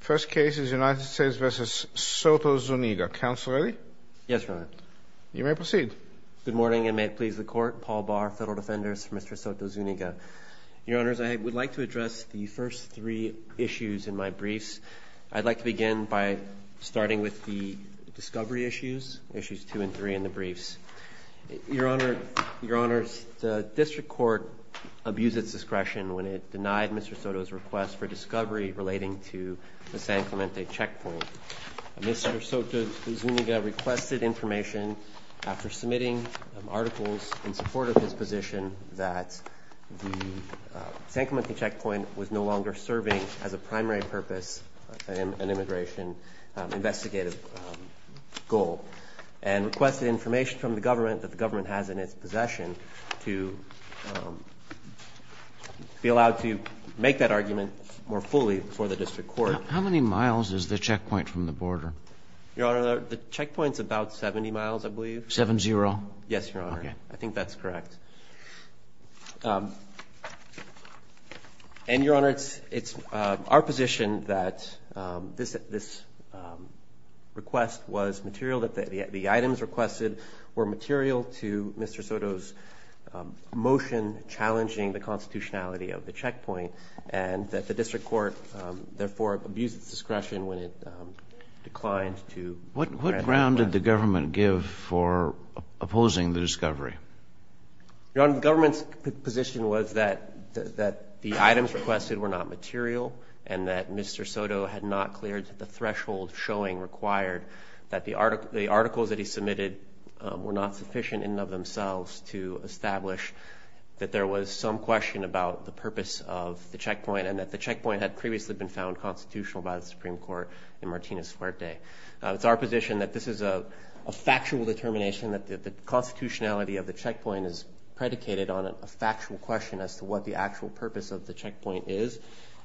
First case is United States v. Soto-Zuniga. Counsel ready? Yes, Your Honor. You may proceed. Good morning and may it please the Court. Paul Barr, Federal Defenders for Mr. Soto-Zuniga. Your Honors, I would like to address the first three issues in my briefs. I'd like to begin by starting with the discovery issues, issues two and three in the briefs. Your Honor, Your Honors, the District Court abused its discretion when it denied Mr. Soto's request for discovery relating to the San Clemente checkpoint. Mr. Soto-Zuniga requested information after submitting articles in support of his position that the San Clemente checkpoint was no longer serving as a primary purpose, an immigration investigative goal, and requested information from the government that the government has in its possession to be allowed to make that argument more fully for the District Court. How many miles is the checkpoint from the border? Your Honor, the checkpoint's about 70 miles, I believe. 7-0? Yes, Your Honor. Okay. I think that's correct. And, Your Honor, it's our position that this request was material, that the items requested were material to Mr. Soto's motion challenging the constitutionality of the checkpoint, and that the District Court, therefore, abused its discretion when it declined to- What ground did the government give for opposing the discovery? Your Honor, the government's position was that the items requested were not material, and that Mr. Soto had not cleared the threshold showing required that the articles that he submitted were not sufficient in and of the checkpoint, and that the checkpoint had previously been found constitutional by the Supreme Court in Martinez-Fuerte. It's our position that this is a factual determination, that the constitutionality of the checkpoint is predicated on a factual question as to what the actual purpose of the checkpoint is,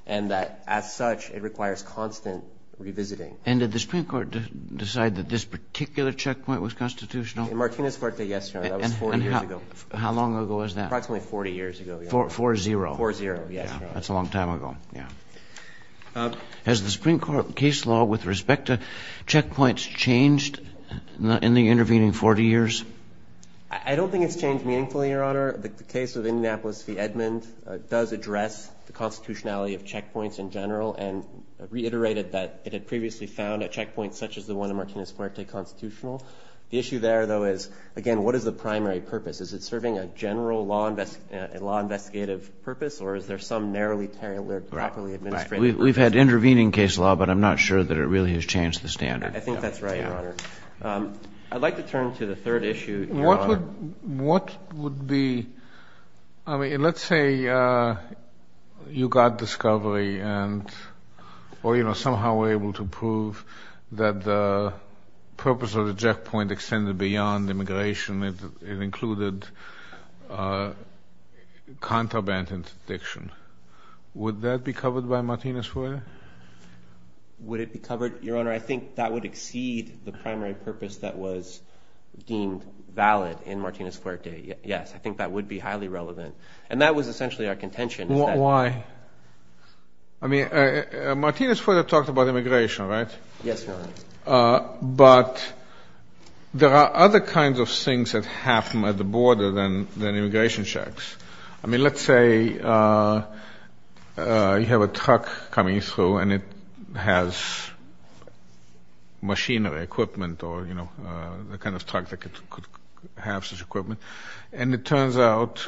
and that, as such, it requires constant revisiting. And did the Supreme Court decide that this particular checkpoint was constitutional? In Martinez-Fuerte, yes, Your Honor. That was 40 years ago. How long ago was that? Approximately 40 years ago. 4-0. Yes, Your Honor. That's a long time ago, yeah. Has the Supreme Court case law with respect to checkpoints changed in the intervening 40 years? I don't think it's changed meaningfully, Your Honor. The case of Indianapolis v. Edmond does address the constitutionality of checkpoints in general, and reiterated that it had previously found a checkpoint such as the one in Martinez-Fuerte constitutional. The issue there, though, is, again, what is the primary purpose? Is it serving a law-investigative purpose, or is there some narrowly-tailored, properly-administrated purpose? We've had intervening case law, but I'm not sure that it really has changed the standard. I think that's right, Your Honor. I'd like to turn to the third issue, Your Honor. What would be, I mean, let's say you got discovery and, or, you know, somehow were able to prove that the purpose of the checkpoint extended beyond immigration. It included contraband interdiction. Would that be covered by Martinez-Fuerte? Would it be covered, Your Honor? I think that would exceed the primary purpose that was deemed valid in Martinez-Fuerte. Yes, I think that would be highly relevant. And that was essentially our contention. Why? I mean, Martinez-Fuerte talked about immigration, right? Yes, Your Honor. But there are other kinds of things that happen at the border than immigration checks. I mean, let's say you have a truck coming through, and it has machinery, equipment, or, you know, the kind of truck that could have such equipment, and it turns out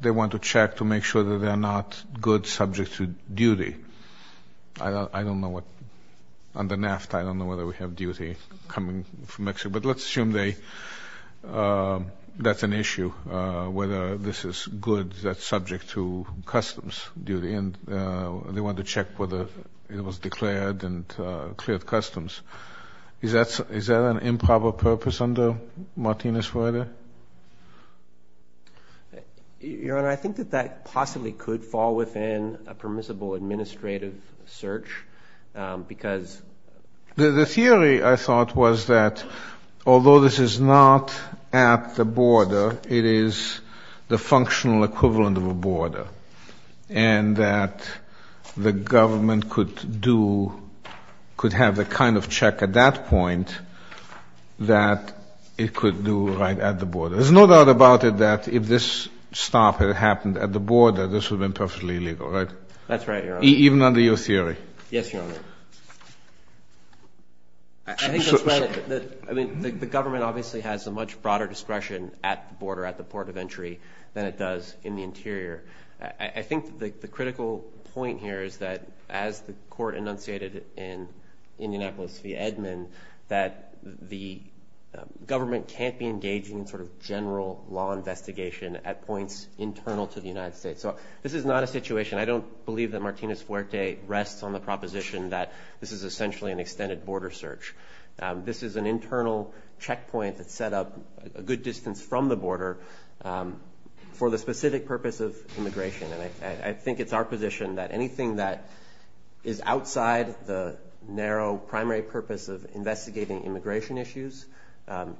they want to check to make sure that they're not goods subject to duty. I don't know what, under NAFTA, I don't know whether we have duty coming from Mexico, but let's assume they, that's an issue, whether this is goods that's subject to customs duty, and they want to check whether it was declared and cleared customs. Is that an improper purpose under Martinez-Fuerte? Your Honor, I think that that possibly could fall within a permissible administrative search, because... The theory, I thought, was that although this is not at the border, it is the functional equivalent of a border, and that the government could do, could have the kind of check at that point that it could do right at the border. There's no doubt about it that if this stop had happened at the border, this would have been perfectly legal, right? That's right, Your Honor. Even under your theory? Yes, Your Honor. I think that's right. I mean, the government obviously has a much broader discretion at the border, at the port of entry, than it does in the interior. I think the critical point here is that as the court enunciated in Indianapolis v. Edmond, that the government can't be engaging in sort of general law investigation at points internal to the United States. So this is not a situation, I don't believe that Martinez-Fuerte rests on the proposition that this is essentially an extended border search. This is an internal checkpoint that's set up a good distance from the border for the specific purpose of immigration. And I think it's our position that anything that is outside the narrow primary purpose of investigating immigration issues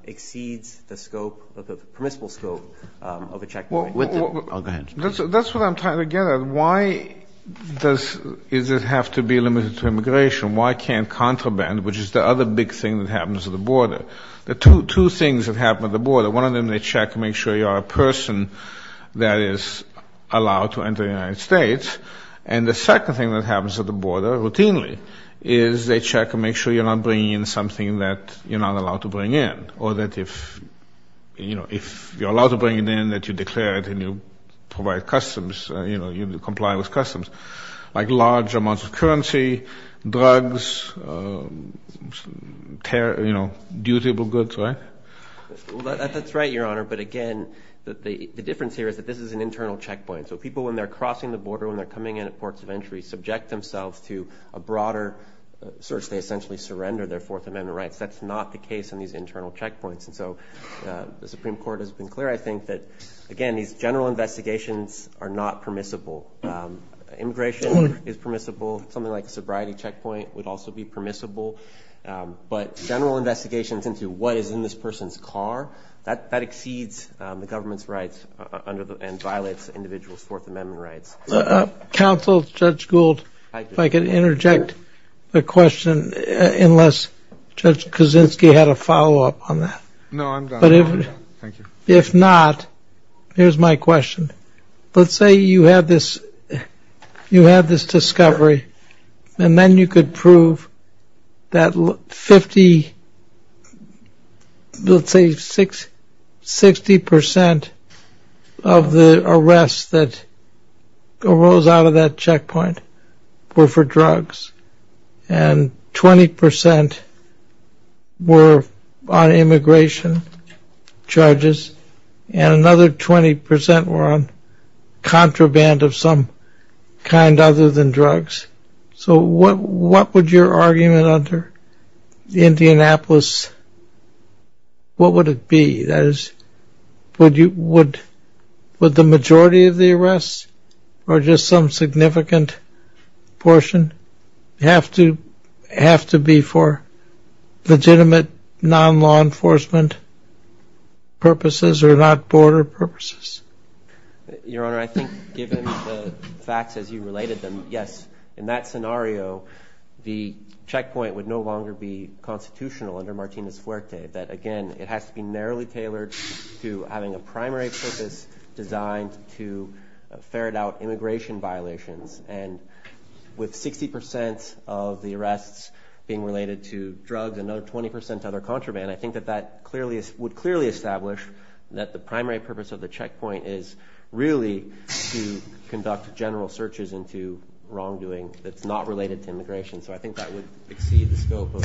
exceeds the scope, the permissible scope of a checkpoint. That's what I'm trying to get at. Why does it have to be limited to immigration? Why can't which is the other big thing that happens at the border. There are two things that happen at the border. One of them, they check to make sure you are a person that is allowed to enter the United States. And the second thing that happens at the border routinely is they check to make sure you're not bringing in something that you're not allowed to bring in. Or that if, you know, if you're allowed to bring it in, that you declare it and you provide customs, you know, you comply with customs. Like large amounts of currency, drugs, you know, dutable goods, right? That's right, Your Honor. But again, the difference here is that this is an internal checkpoint. So people, when they're crossing the border, when they're coming in at ports of entry, subject themselves to a broader search. They essentially surrender their Fourth Amendment rights. That's not the case in these internal checkpoints. And so the Supreme Court has been clear, I think, that again, these general investigations are not permissible. Immigration is permissible. Something like a sobriety checkpoint would also be permissible. But general investigations into what is in this person's car, that exceeds the government's rights and violates individuals' Fourth Amendment rights. Counsel, Judge Gould, if I could interject a question, unless Judge not, here's my question. Let's say you had this, you had this discovery, and then you could prove that 50, let's say 60 percent of the arrests that arose out of that checkpoint were for drugs. And 20 percent were on immigration charges. And another 20 percent were on contraband of some kind other than drugs. So what would your argument under Indianapolis, what would it be? That is, would the majority of the arrests, or just some significant portion, have to be for legitimate non-law enforcement purposes or not border purposes? Your Honor, I think given the facts as you related them, yes. In that scenario, the checkpoint would no longer be constitutional under Martinez-Fuerte, that again, it has to be narrowly tailored to having a primary purpose designed to ferret out immigration violations. And with 60 percent of the arrests being related to drugs and another 20 percent to other contraband, I think that that would clearly establish that the primary purpose of the checkpoint is really to conduct general searches into wrongdoing that's not related to immigration. So I think that would exceed the scope of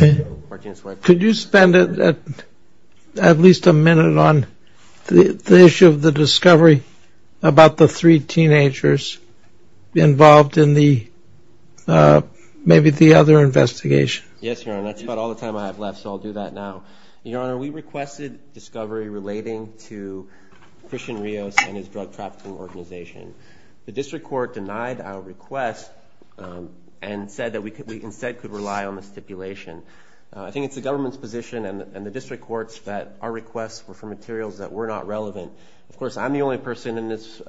Martinez-Fuerte. Could you spend at least a minute on the issue of the discovery about the three teenagers involved in maybe the other investigation? Yes, Your Honor. That's about all the time I have left, so I'll do that now. Your Honor, we requested discovery relating to Christian Rios and his drug trafficking organization. The district court denied our request and said that we instead could rely on the stipulation. I think it's the government's position and the district court's that our requests were for materials that were not relevant. Of course, I'm the only person in this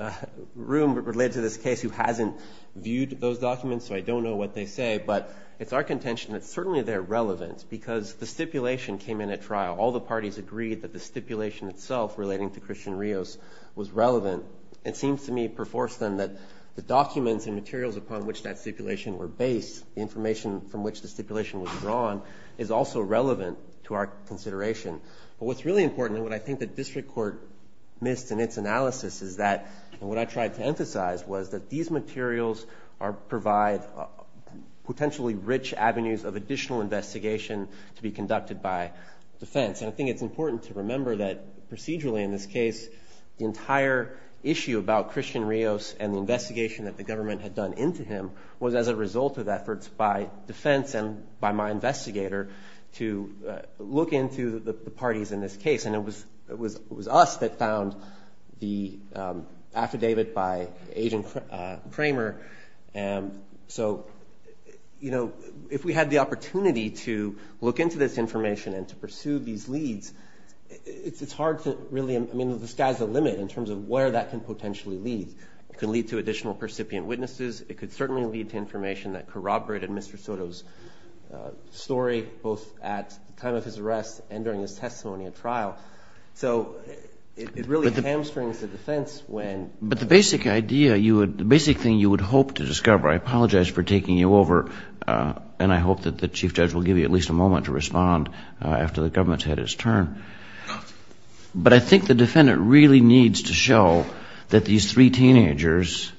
room related to this case who hasn't viewed those documents, so I don't know what they say, but it's our contention that certainly they're relevant because the stipulation came in at trial. All the parties agreed that the the documents and materials upon which that stipulation were based, the information from which the stipulation was drawn, is also relevant to our consideration. But what's really important and what I think the district court missed in its analysis is that, and what I tried to emphasize, was that these materials provide potentially rich avenues of additional investigation to be conducted by defense. And I think it's important to remember that procedurally in this case, the entire issue about Christian Rios and the investigation that the government had done into him was as a result of efforts by defense and by my investigator to look into the parties in this case. And it was us that found the affidavit by Agent Kramer. So, you know, if we had the opportunity to look into this information and to pursue these leads, it's hard to really, I mean, the sky's the limit in terms of where that can potentially lead. It can lead to additional percipient witnesses. It could certainly lead to information that corroborated Mr. Soto's story, both at the time of his arrest and during his testimony at trial. So it really hamstrings the defense when... But the basic idea you would, the basic thing you would hope to discover, I apologize for taking you over, and I hope that the Chief Judge will give you at least a moment to respond after the government's had its turn. But I think the defendant really needs to show that these three teenagers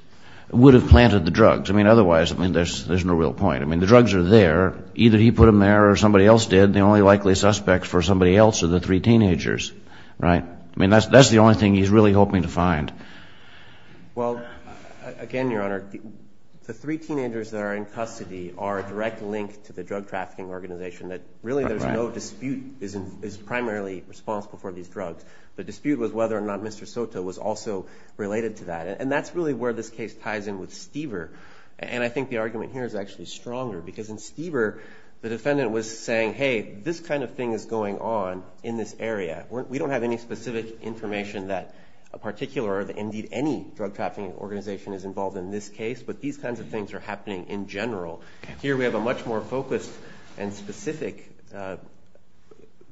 would have planted the drugs. I mean, otherwise, I mean, there's no real point. I mean, the drugs are there. Either he put them there or somebody else did. The only likely suspects for somebody else are the three teenagers, right? I mean, that's the only thing he's really hoping to find. Well, again, Your Honor, the three teenagers that are in custody are a direct link to the drug trafficking organization that really there's no dispute, is primarily responsible for these drugs. The dispute was whether or not Mr. Soto was also related to that. And that's really where this case ties in with Stieber. And I think the argument here is actually stronger because in Stieber, the defendant was saying, hey, this kind of thing is going on in this area. We don't have any specific information that a particular, or indeed any drug trafficking organization is involved in this case, but these kinds of things are happening in general. Here we have a much more focused and specific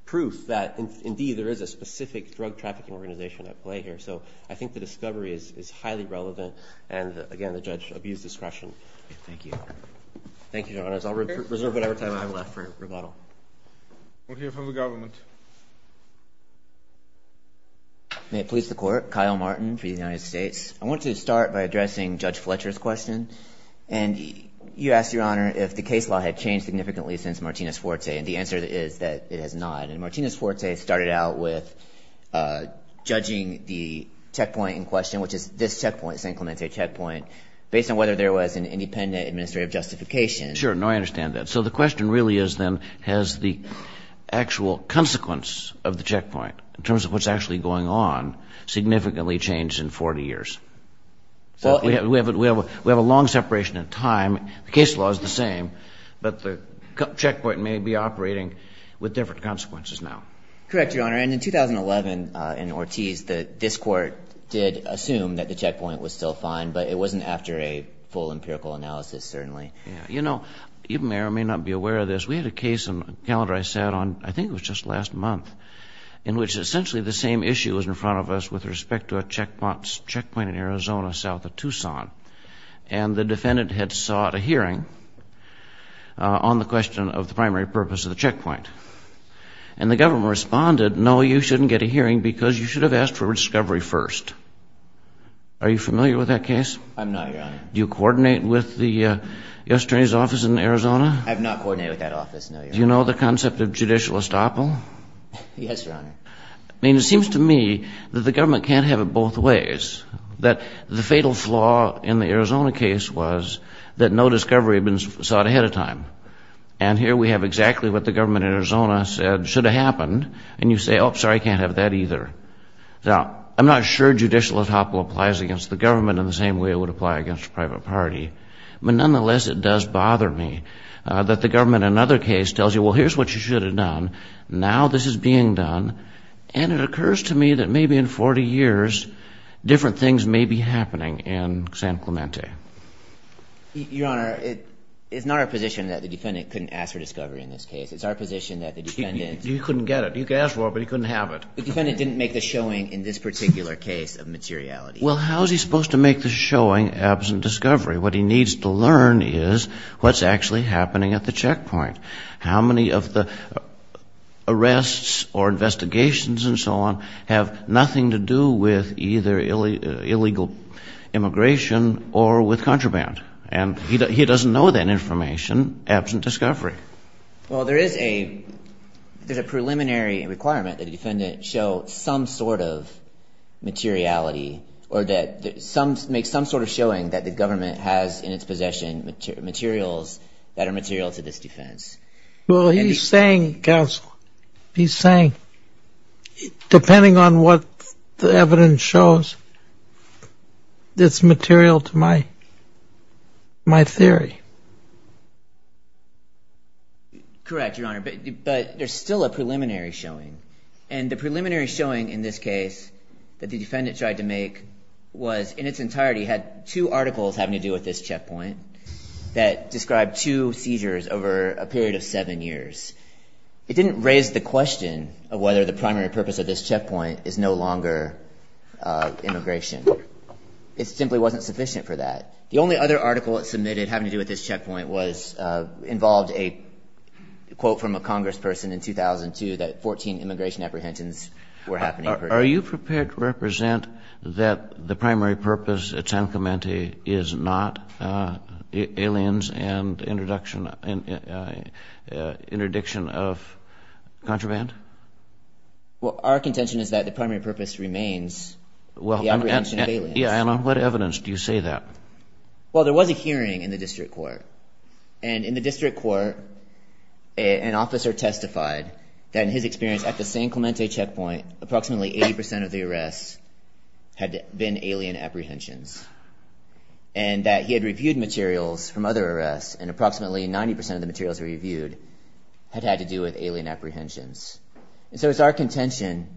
proof that indeed there is a specific drug trafficking organization at play here. So I think the discovery is highly relevant. And again, the judge abused discretion. Thank you. Thank you, Your Honor. I'll reserve whatever time I have left for rebuttal. We'll hear from the government. May it please the court. Kyle Martin for the United States. I want to start by addressing Judge Fletcher's question. And you asked, Your Honor, if the case law had changed significantly since Martinez-Forte. And the answer is that it has not. And Martinez-Forte started out with judging the checkpoint in question, which is this checkpoint, San Clemente checkpoint, based on whether there was an independent administrative justification. Sure. No, I understand that. So the question really is then has the actual consequence of the checkpoint in terms of what's actually going on significantly changed in 40 years? We have a long separation in time. The case law is the same, but the checkpoint may be operating with different consequences now. Correct, Your Honor. And in 2011 in Ortiz, this court did assume that the checkpoint was still fine, but it wasn't after a full empirical analysis, certainly. You know, you may or may not be aware of this. We had a case on the calendar I sat on, I think it was just last month, in which essentially the same issue was in a checkpoint in Arizona south of Tucson. And the defendant had sought a hearing on the question of the primary purpose of the checkpoint. And the government responded, no, you shouldn't get a hearing because you should have asked for discovery first. Are you familiar with that case? I'm not, Your Honor. Do you coordinate with the U.S. Attorney's Office in Arizona? I have not coordinated with that office, no, Your Honor. Do you know the concept of judicial estoppel? Yes, Your Honor. I mean, it seems to me that government can't have it both ways, that the fatal flaw in the Arizona case was that no discovery had been sought ahead of time. And here we have exactly what the government in Arizona said should have happened. And you say, oh, sorry, I can't have that either. Now, I'm not sure judicial estoppel applies against the government in the same way it would apply against a private party. But nonetheless, it does bother me that the government in another case tells you, well, it's been 40 years, different things may be happening in San Clemente. Your Honor, it's not our position that the defendant couldn't ask for discovery in this case. It's our position that the defendant... You couldn't get it. You could ask for it, but you couldn't have it. The defendant didn't make the showing in this particular case of materiality. Well, how is he supposed to make the showing absent discovery? What he needs to learn is what's actually happening at the checkpoint. How many of the arrests or investigations and so on have nothing to do with either illegal immigration or with contraband? And he doesn't know that information absent discovery. Well, there is a preliminary requirement that the defendant show some sort of materiality or make some sort of showing that the government has in its possession materials that are material to this defense. Well, he's saying, counsel, he's saying, depending on what the evidence shows, it's material to my theory. Correct, Your Honor, but there's still a preliminary showing. And the preliminary showing in this case that the defendant tried to make was in its entirety had two articles having to do with this checkpoint that described two seizures over a period of seven years. It didn't raise the question of whether the primary purpose of this checkpoint is no longer immigration. It simply wasn't sufficient for that. The only other article it submitted having to do with this checkpoint was involved a quote from a congressperson in 2002 that 14 immigration apprehensions were happening. Are you prepared to represent that the primary purpose at San Clemente is not aliens and interdiction of contraband? Well, our contention is that the primary purpose remains the apprehension of aliens. Yeah, and on what evidence do you say that? Well, there was a hearing in the district court. And in the district court, an officer testified that in his experience at the San Clemente checkpoint, approximately 80% of the arrests had been alien apprehensions and that he had reviewed materials from other arrests and approximately 90% of the materials reviewed had had to do with alien apprehensions. So it's our contention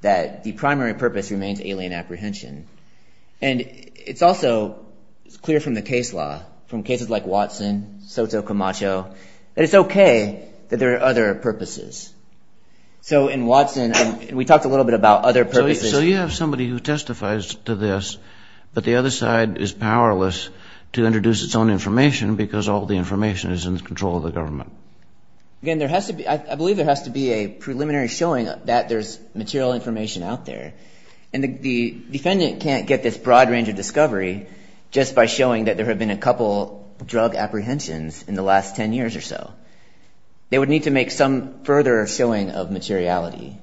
that the primary purpose remains alien apprehension. And it's also clear from the case law, from cases like Watson, Soto Camacho, that it's OK that there are other purposes. So in Watson, we talked a little bit about other purposes. So you have somebody who testifies to this, but the other side is powerless to introduce its own information because all the information is in the control of the government. Again, I believe there has to be a preliminary showing that there's material information out there. And the defendant can't get this broad range of discovery just by showing that there have been a couple drug apprehensions in the last 10 years or so. They would need to make some further showing of materiality.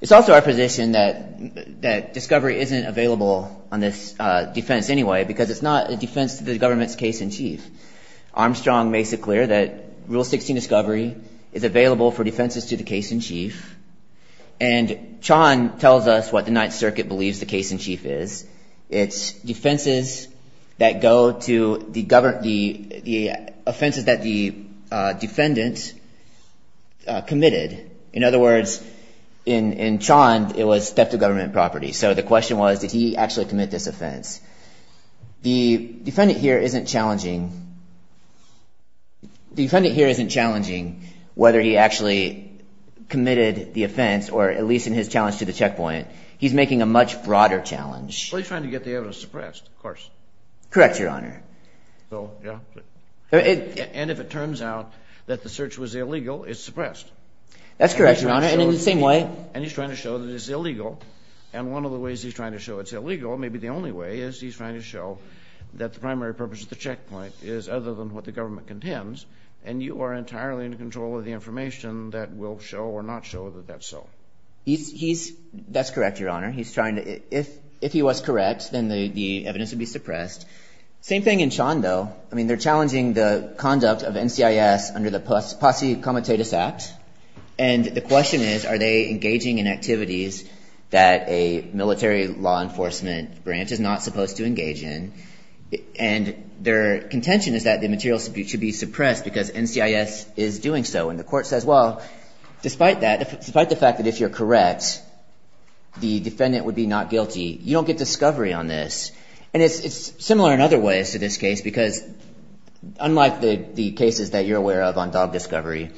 It's also our position that discovery isn't available on this defense anyway because it's not a defense to the government's case in chief. Armstrong makes it clear that Rule 16 discovery is available for defenses to the case in chief. And Chan tells us what the Ninth Circuit believes the case in chief is. It's defenses that go to the offenses that the defendant committed. In other words, in Chan, it was theft of government property. So the question was, did he actually commit this offense? The defendant here isn't challenging whether he actually committed the crime. He's trying to get the evidence suppressed, of course. Correct, Your Honor. And if it turns out that the search was illegal, it's suppressed. That's correct, Your Honor. And in the same way... And he's trying to show that it's illegal. And one of the ways he's trying to show it's illegal, maybe the only way, is he's trying to show that the primary purpose of the checkpoint is other than what the government contends, and you are entirely in control of the information that will show or not show that that's so. He's... That's correct, Your Honor. He's trying to... If he was correct, then the evidence would be suppressed. Same thing in Chan, though. I mean, they're challenging the conduct of NCIS under the Posse Comitatus Act. And the question is, are they engaging in activities that a military law enforcement branch is not supposed to engage in? And their contention is that the materials should be suppressed because NCIS is doing so. And the court says, well, despite that, despite the fact that if you're correct, the defendant would be not guilty, you don't get discovery on this. And it's similar in other ways to this case, because unlike the cases that you're aware of on dog discovery,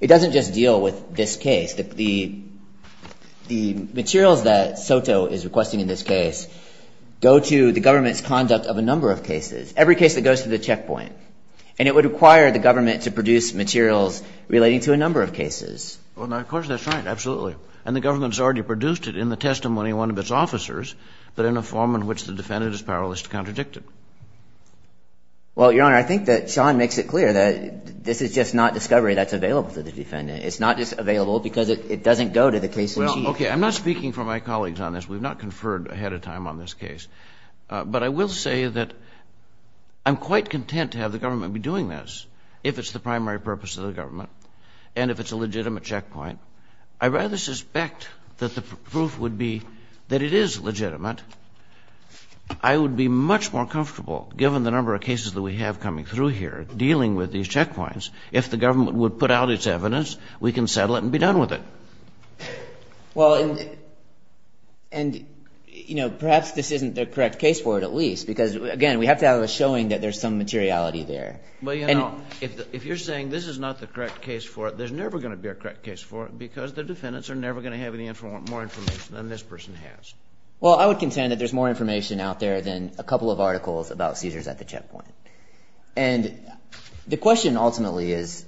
it doesn't just deal with this case. The materials that SOTO is requesting in this case go to the government's conduct of a number of cases, every case that goes to the checkpoint. And it would require the government to produce materials relating to a number of cases. Well, now, of course, that's right. Absolutely. And the government's already produced it in the testimony of one of its officers, but in a form in which the defendant is powerless to contradict it. Well, Your Honor, I think that Chan makes it clear that this is just not discovery that's available to the defendant. It's not just available because it doesn't go to the case... Well, okay, I'm not speaking for my colleagues on this. We've not conferred ahead of time on this case. But I will say that I'm quite content to have the government, and if it's a legitimate checkpoint, I rather suspect that the proof would be that it is legitimate. I would be much more comfortable, given the number of cases that we have coming through here dealing with these checkpoints, if the government would put out its evidence, we can settle it and be done with it. Well, and, you know, perhaps this isn't the correct case for it, at least, because, again, we have to have a showing that there's some materiality there. Well, you know, if you're saying this is not the correct case for it, there's never going to be a correct case for it, because the defendants are never going to have any more information than this person has. Well, I would contend that there's more information out there than a couple of articles about Caesars at the checkpoint. And the question, ultimately, is,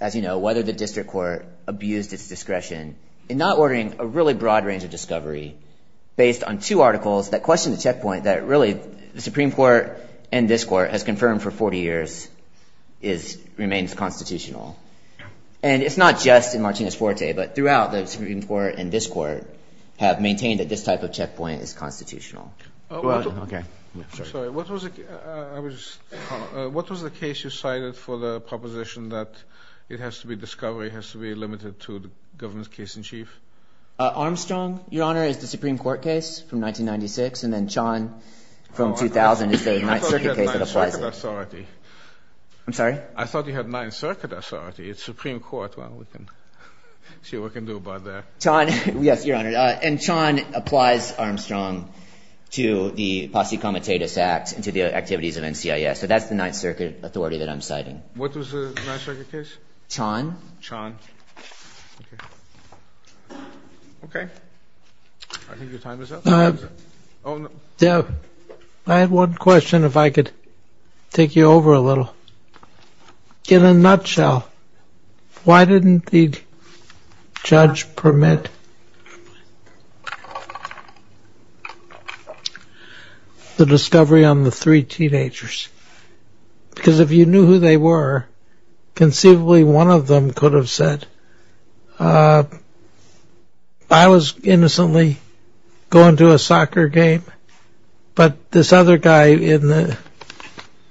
as you know, whether the district court abused its discretion in not ordering a really broad range of discovery based on two articles that question the checkpoint that, really, the Supreme Court and this court has confirmed for 40 years remains constitutional. And it's not just in Martinez-Forte, but throughout the Supreme Court and this court have maintained that this type of checkpoint is constitutional. Sorry, what was the case you cited for the proposition that it has to be discovery, has to be limited to the government's case in chief? Armstrong, Your Honor, is the Supreme Court case from 1996. And then Chon from 2000 is the Ninth Circuit case that applies it. I'm sorry? I thought you had Ninth Circuit authority. It's Supreme Court. Well, we can see what we can do about that. Chon, yes, Your Honor. And Chon applies Armstrong to the Posse Comitatus Act and to the activities of NCIS. So that's the Ninth Circuit authority that I'm citing. What was the Ninth Circuit case? Chon. Chon. Okay. Okay. I think your time is up. I have one question if I could take you over a little. In a nutshell, why didn't the judge permit the discovery on the three teenagers? Because if you knew who they were, conceivably one of them could have said, I was innocently going to a soccer game. But this other guy in the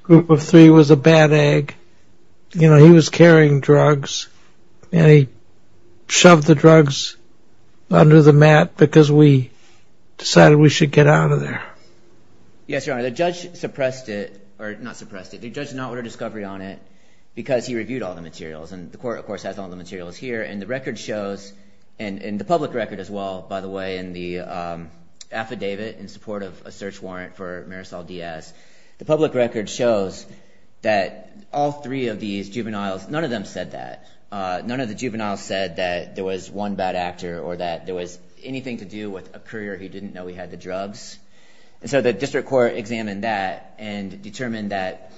group of three was a bad egg. You know, he was carrying drugs, and he shoved the drugs under the mat because we decided we should get out of there. Yes, Your Honor. The judge suppressed it, or not suppressed it. The judge did not order discovery on it because he reviewed all the materials. And the court, of course, has all the materials here. And the record shows, and the public record as well, by the way, in the affidavit in support of a search warrant for Marisol Diaz. The public record shows that all three of these juveniles, none of them said that. None of the juveniles said that there was one bad actor or that there was anything to do with a courier who didn't know he had the drugs. And so the district court examined that and determined that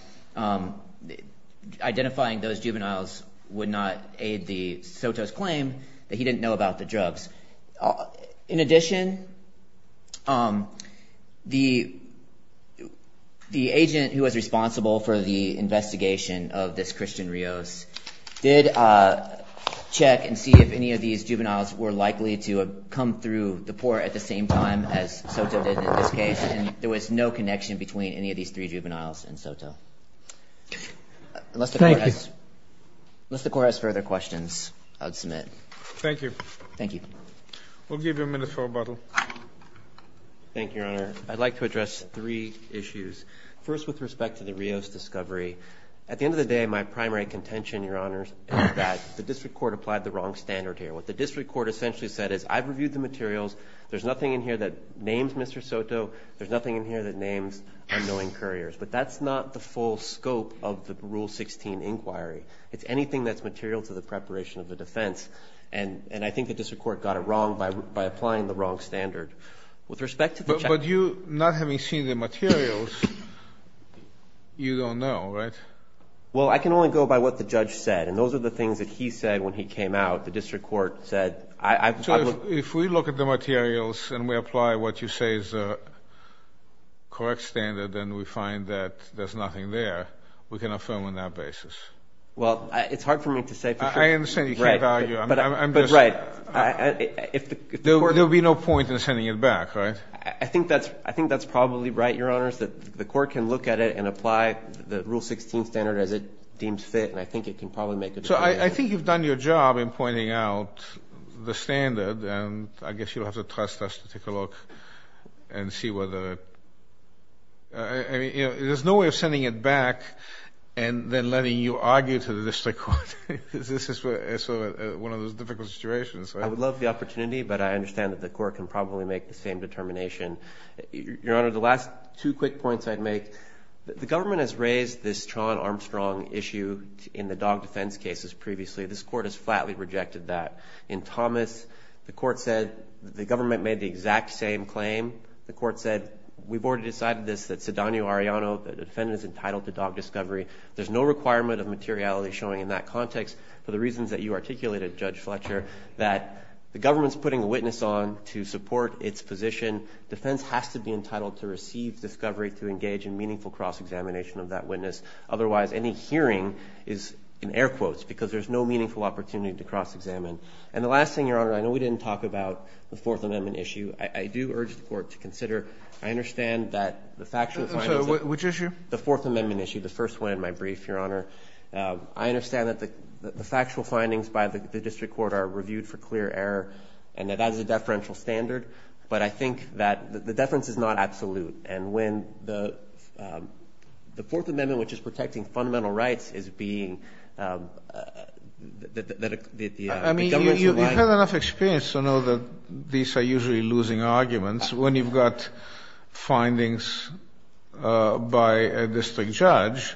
identifying those juveniles would not aid Soto's claim that he didn't know about the drugs. In addition, the agent who was responsible for the investigation of this Christian Rios did check and see if any of these juveniles were likely to have come through the port at the same time as Soto did in this case. And there was no connection between any of these three juveniles and Soto. Thank you. Unless the court has further questions, I would submit. Thank you. Thank you. We'll give you a minute for rebuttal. Thank you, Your Honor. I'd like to address three issues. First, with respect to the Rios discovery, at the end of the day, my primary contention, Your Honor, is that the district court applied the wrong standard here. The district court essentially said is, I've reviewed the materials. There's nothing in here that names Mr. Soto. There's nothing in here that names unknowing couriers. But that's not the full scope of the Rule 16 inquiry. It's anything that's material to the preparation of the defense. And I think the district court got it wrong by applying the wrong standard. But you, not having seen the materials, you don't know, right? Well, I can only go by what the judge said. And those are the things that he said when he came out. The district court said, I've looked... So if we look at the materials and we apply what you say is a correct standard, and we find that there's nothing there, we can affirm on that basis? Well, it's hard for me to say for sure. I understand you can't argue. Right. But right. There would be no point in sending it back, right? I think that's probably right, Your Honors, that the court can look at it and apply the Rule 16 standard as it deems fit. And I think it can probably make a difference. I think you've done your job in pointing out the standard, and I guess you'll have to trust us to take a look and see whether... There's no way of sending it back and then letting you argue to the district court. This is one of those difficult situations. I would love the opportunity, but I understand that the court can probably make the same determination. Your Honor, the last two quick points I'd make, the government has raised this previously. This court has flatly rejected that. In Thomas, the court said the government made the exact same claim. The court said, we've already decided this, that Sidonio Arellano, the defendant is entitled to dog discovery. There's no requirement of materiality showing in that context for the reasons that you articulated, Judge Fletcher, that the government's putting a witness on to support its position. Defense has to be entitled to receive discovery to engage in air quotes because there's no meaningful opportunity to cross-examine. And the last thing, Your Honor, I know we didn't talk about the Fourth Amendment issue. I do urge the court to consider... I understand that the factual... I'm sorry, which issue? The Fourth Amendment issue, the first one in my brief, Your Honor. I understand that the factual findings by the district court are reviewed for clear error and that that is a deferential standard, but I think that the deference is not absolute. And when the Fourth Amendment, which is protecting fundamental rights, is being... I mean, you've had enough experience to know that these are usually losing arguments when you've got findings by a district judge.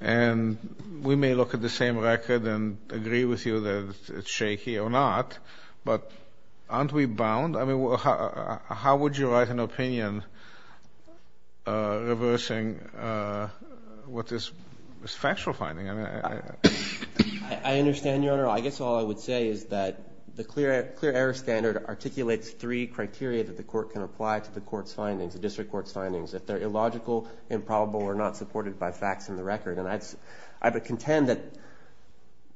And we may look at the same record and agree with you that it's shaky or not, but aren't we bound? I mean, how would you write an opinion reversing what is factual finding? I mean, I... I understand, Your Honor. I guess all I would say is that the clear error standard articulates three criteria that the court can apply to the court's findings, the district court's findings, if they're illogical, improbable, or not supported by facts in the record. And I would contend that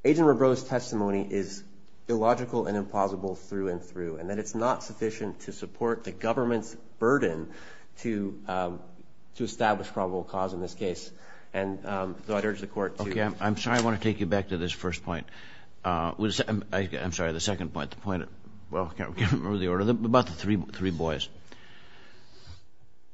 Agent Robreau's testimony is illogical and burden to establish probable cause in this case. And so I'd urge the court to... Okay. I'm sorry. I want to take you back to this first point. I'm sorry, the second point. The point... Well, I can't remember the order. About the three boys.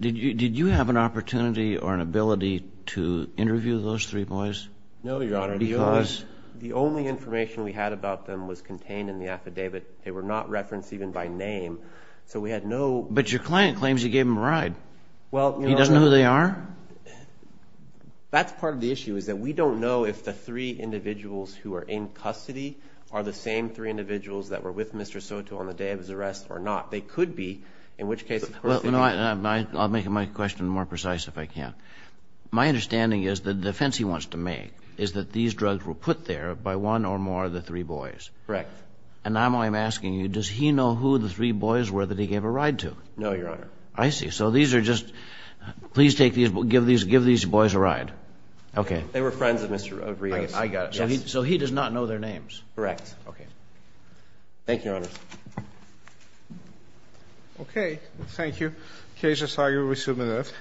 Did you have an opportunity or an ability to interview those three boys? No, Your Honor. Because? The only information we had about them was contained in the affidavit. They were not But your client claims you gave him a ride. He doesn't know who they are? That's part of the issue, is that we don't know if the three individuals who are in custody are the same three individuals that were with Mr. Soto on the day of his arrest or not. They could be, in which case... I'll make my question more precise if I can. My understanding is the defense he wants to make is that these drugs were put there by one or more of the three boys. Correct. And now I'm asking you, does he know who the three boys were that he gave a ride to? No, Your Honor. I see. So these are just... Please take these... Give these boys a ride. Okay. They were friends of Rio's. I got it. So he does not know their names? Correct. Okay. Thank you, Your Honor. Okay. Thank you. Case, I'm sorry. We'll resume in a minute.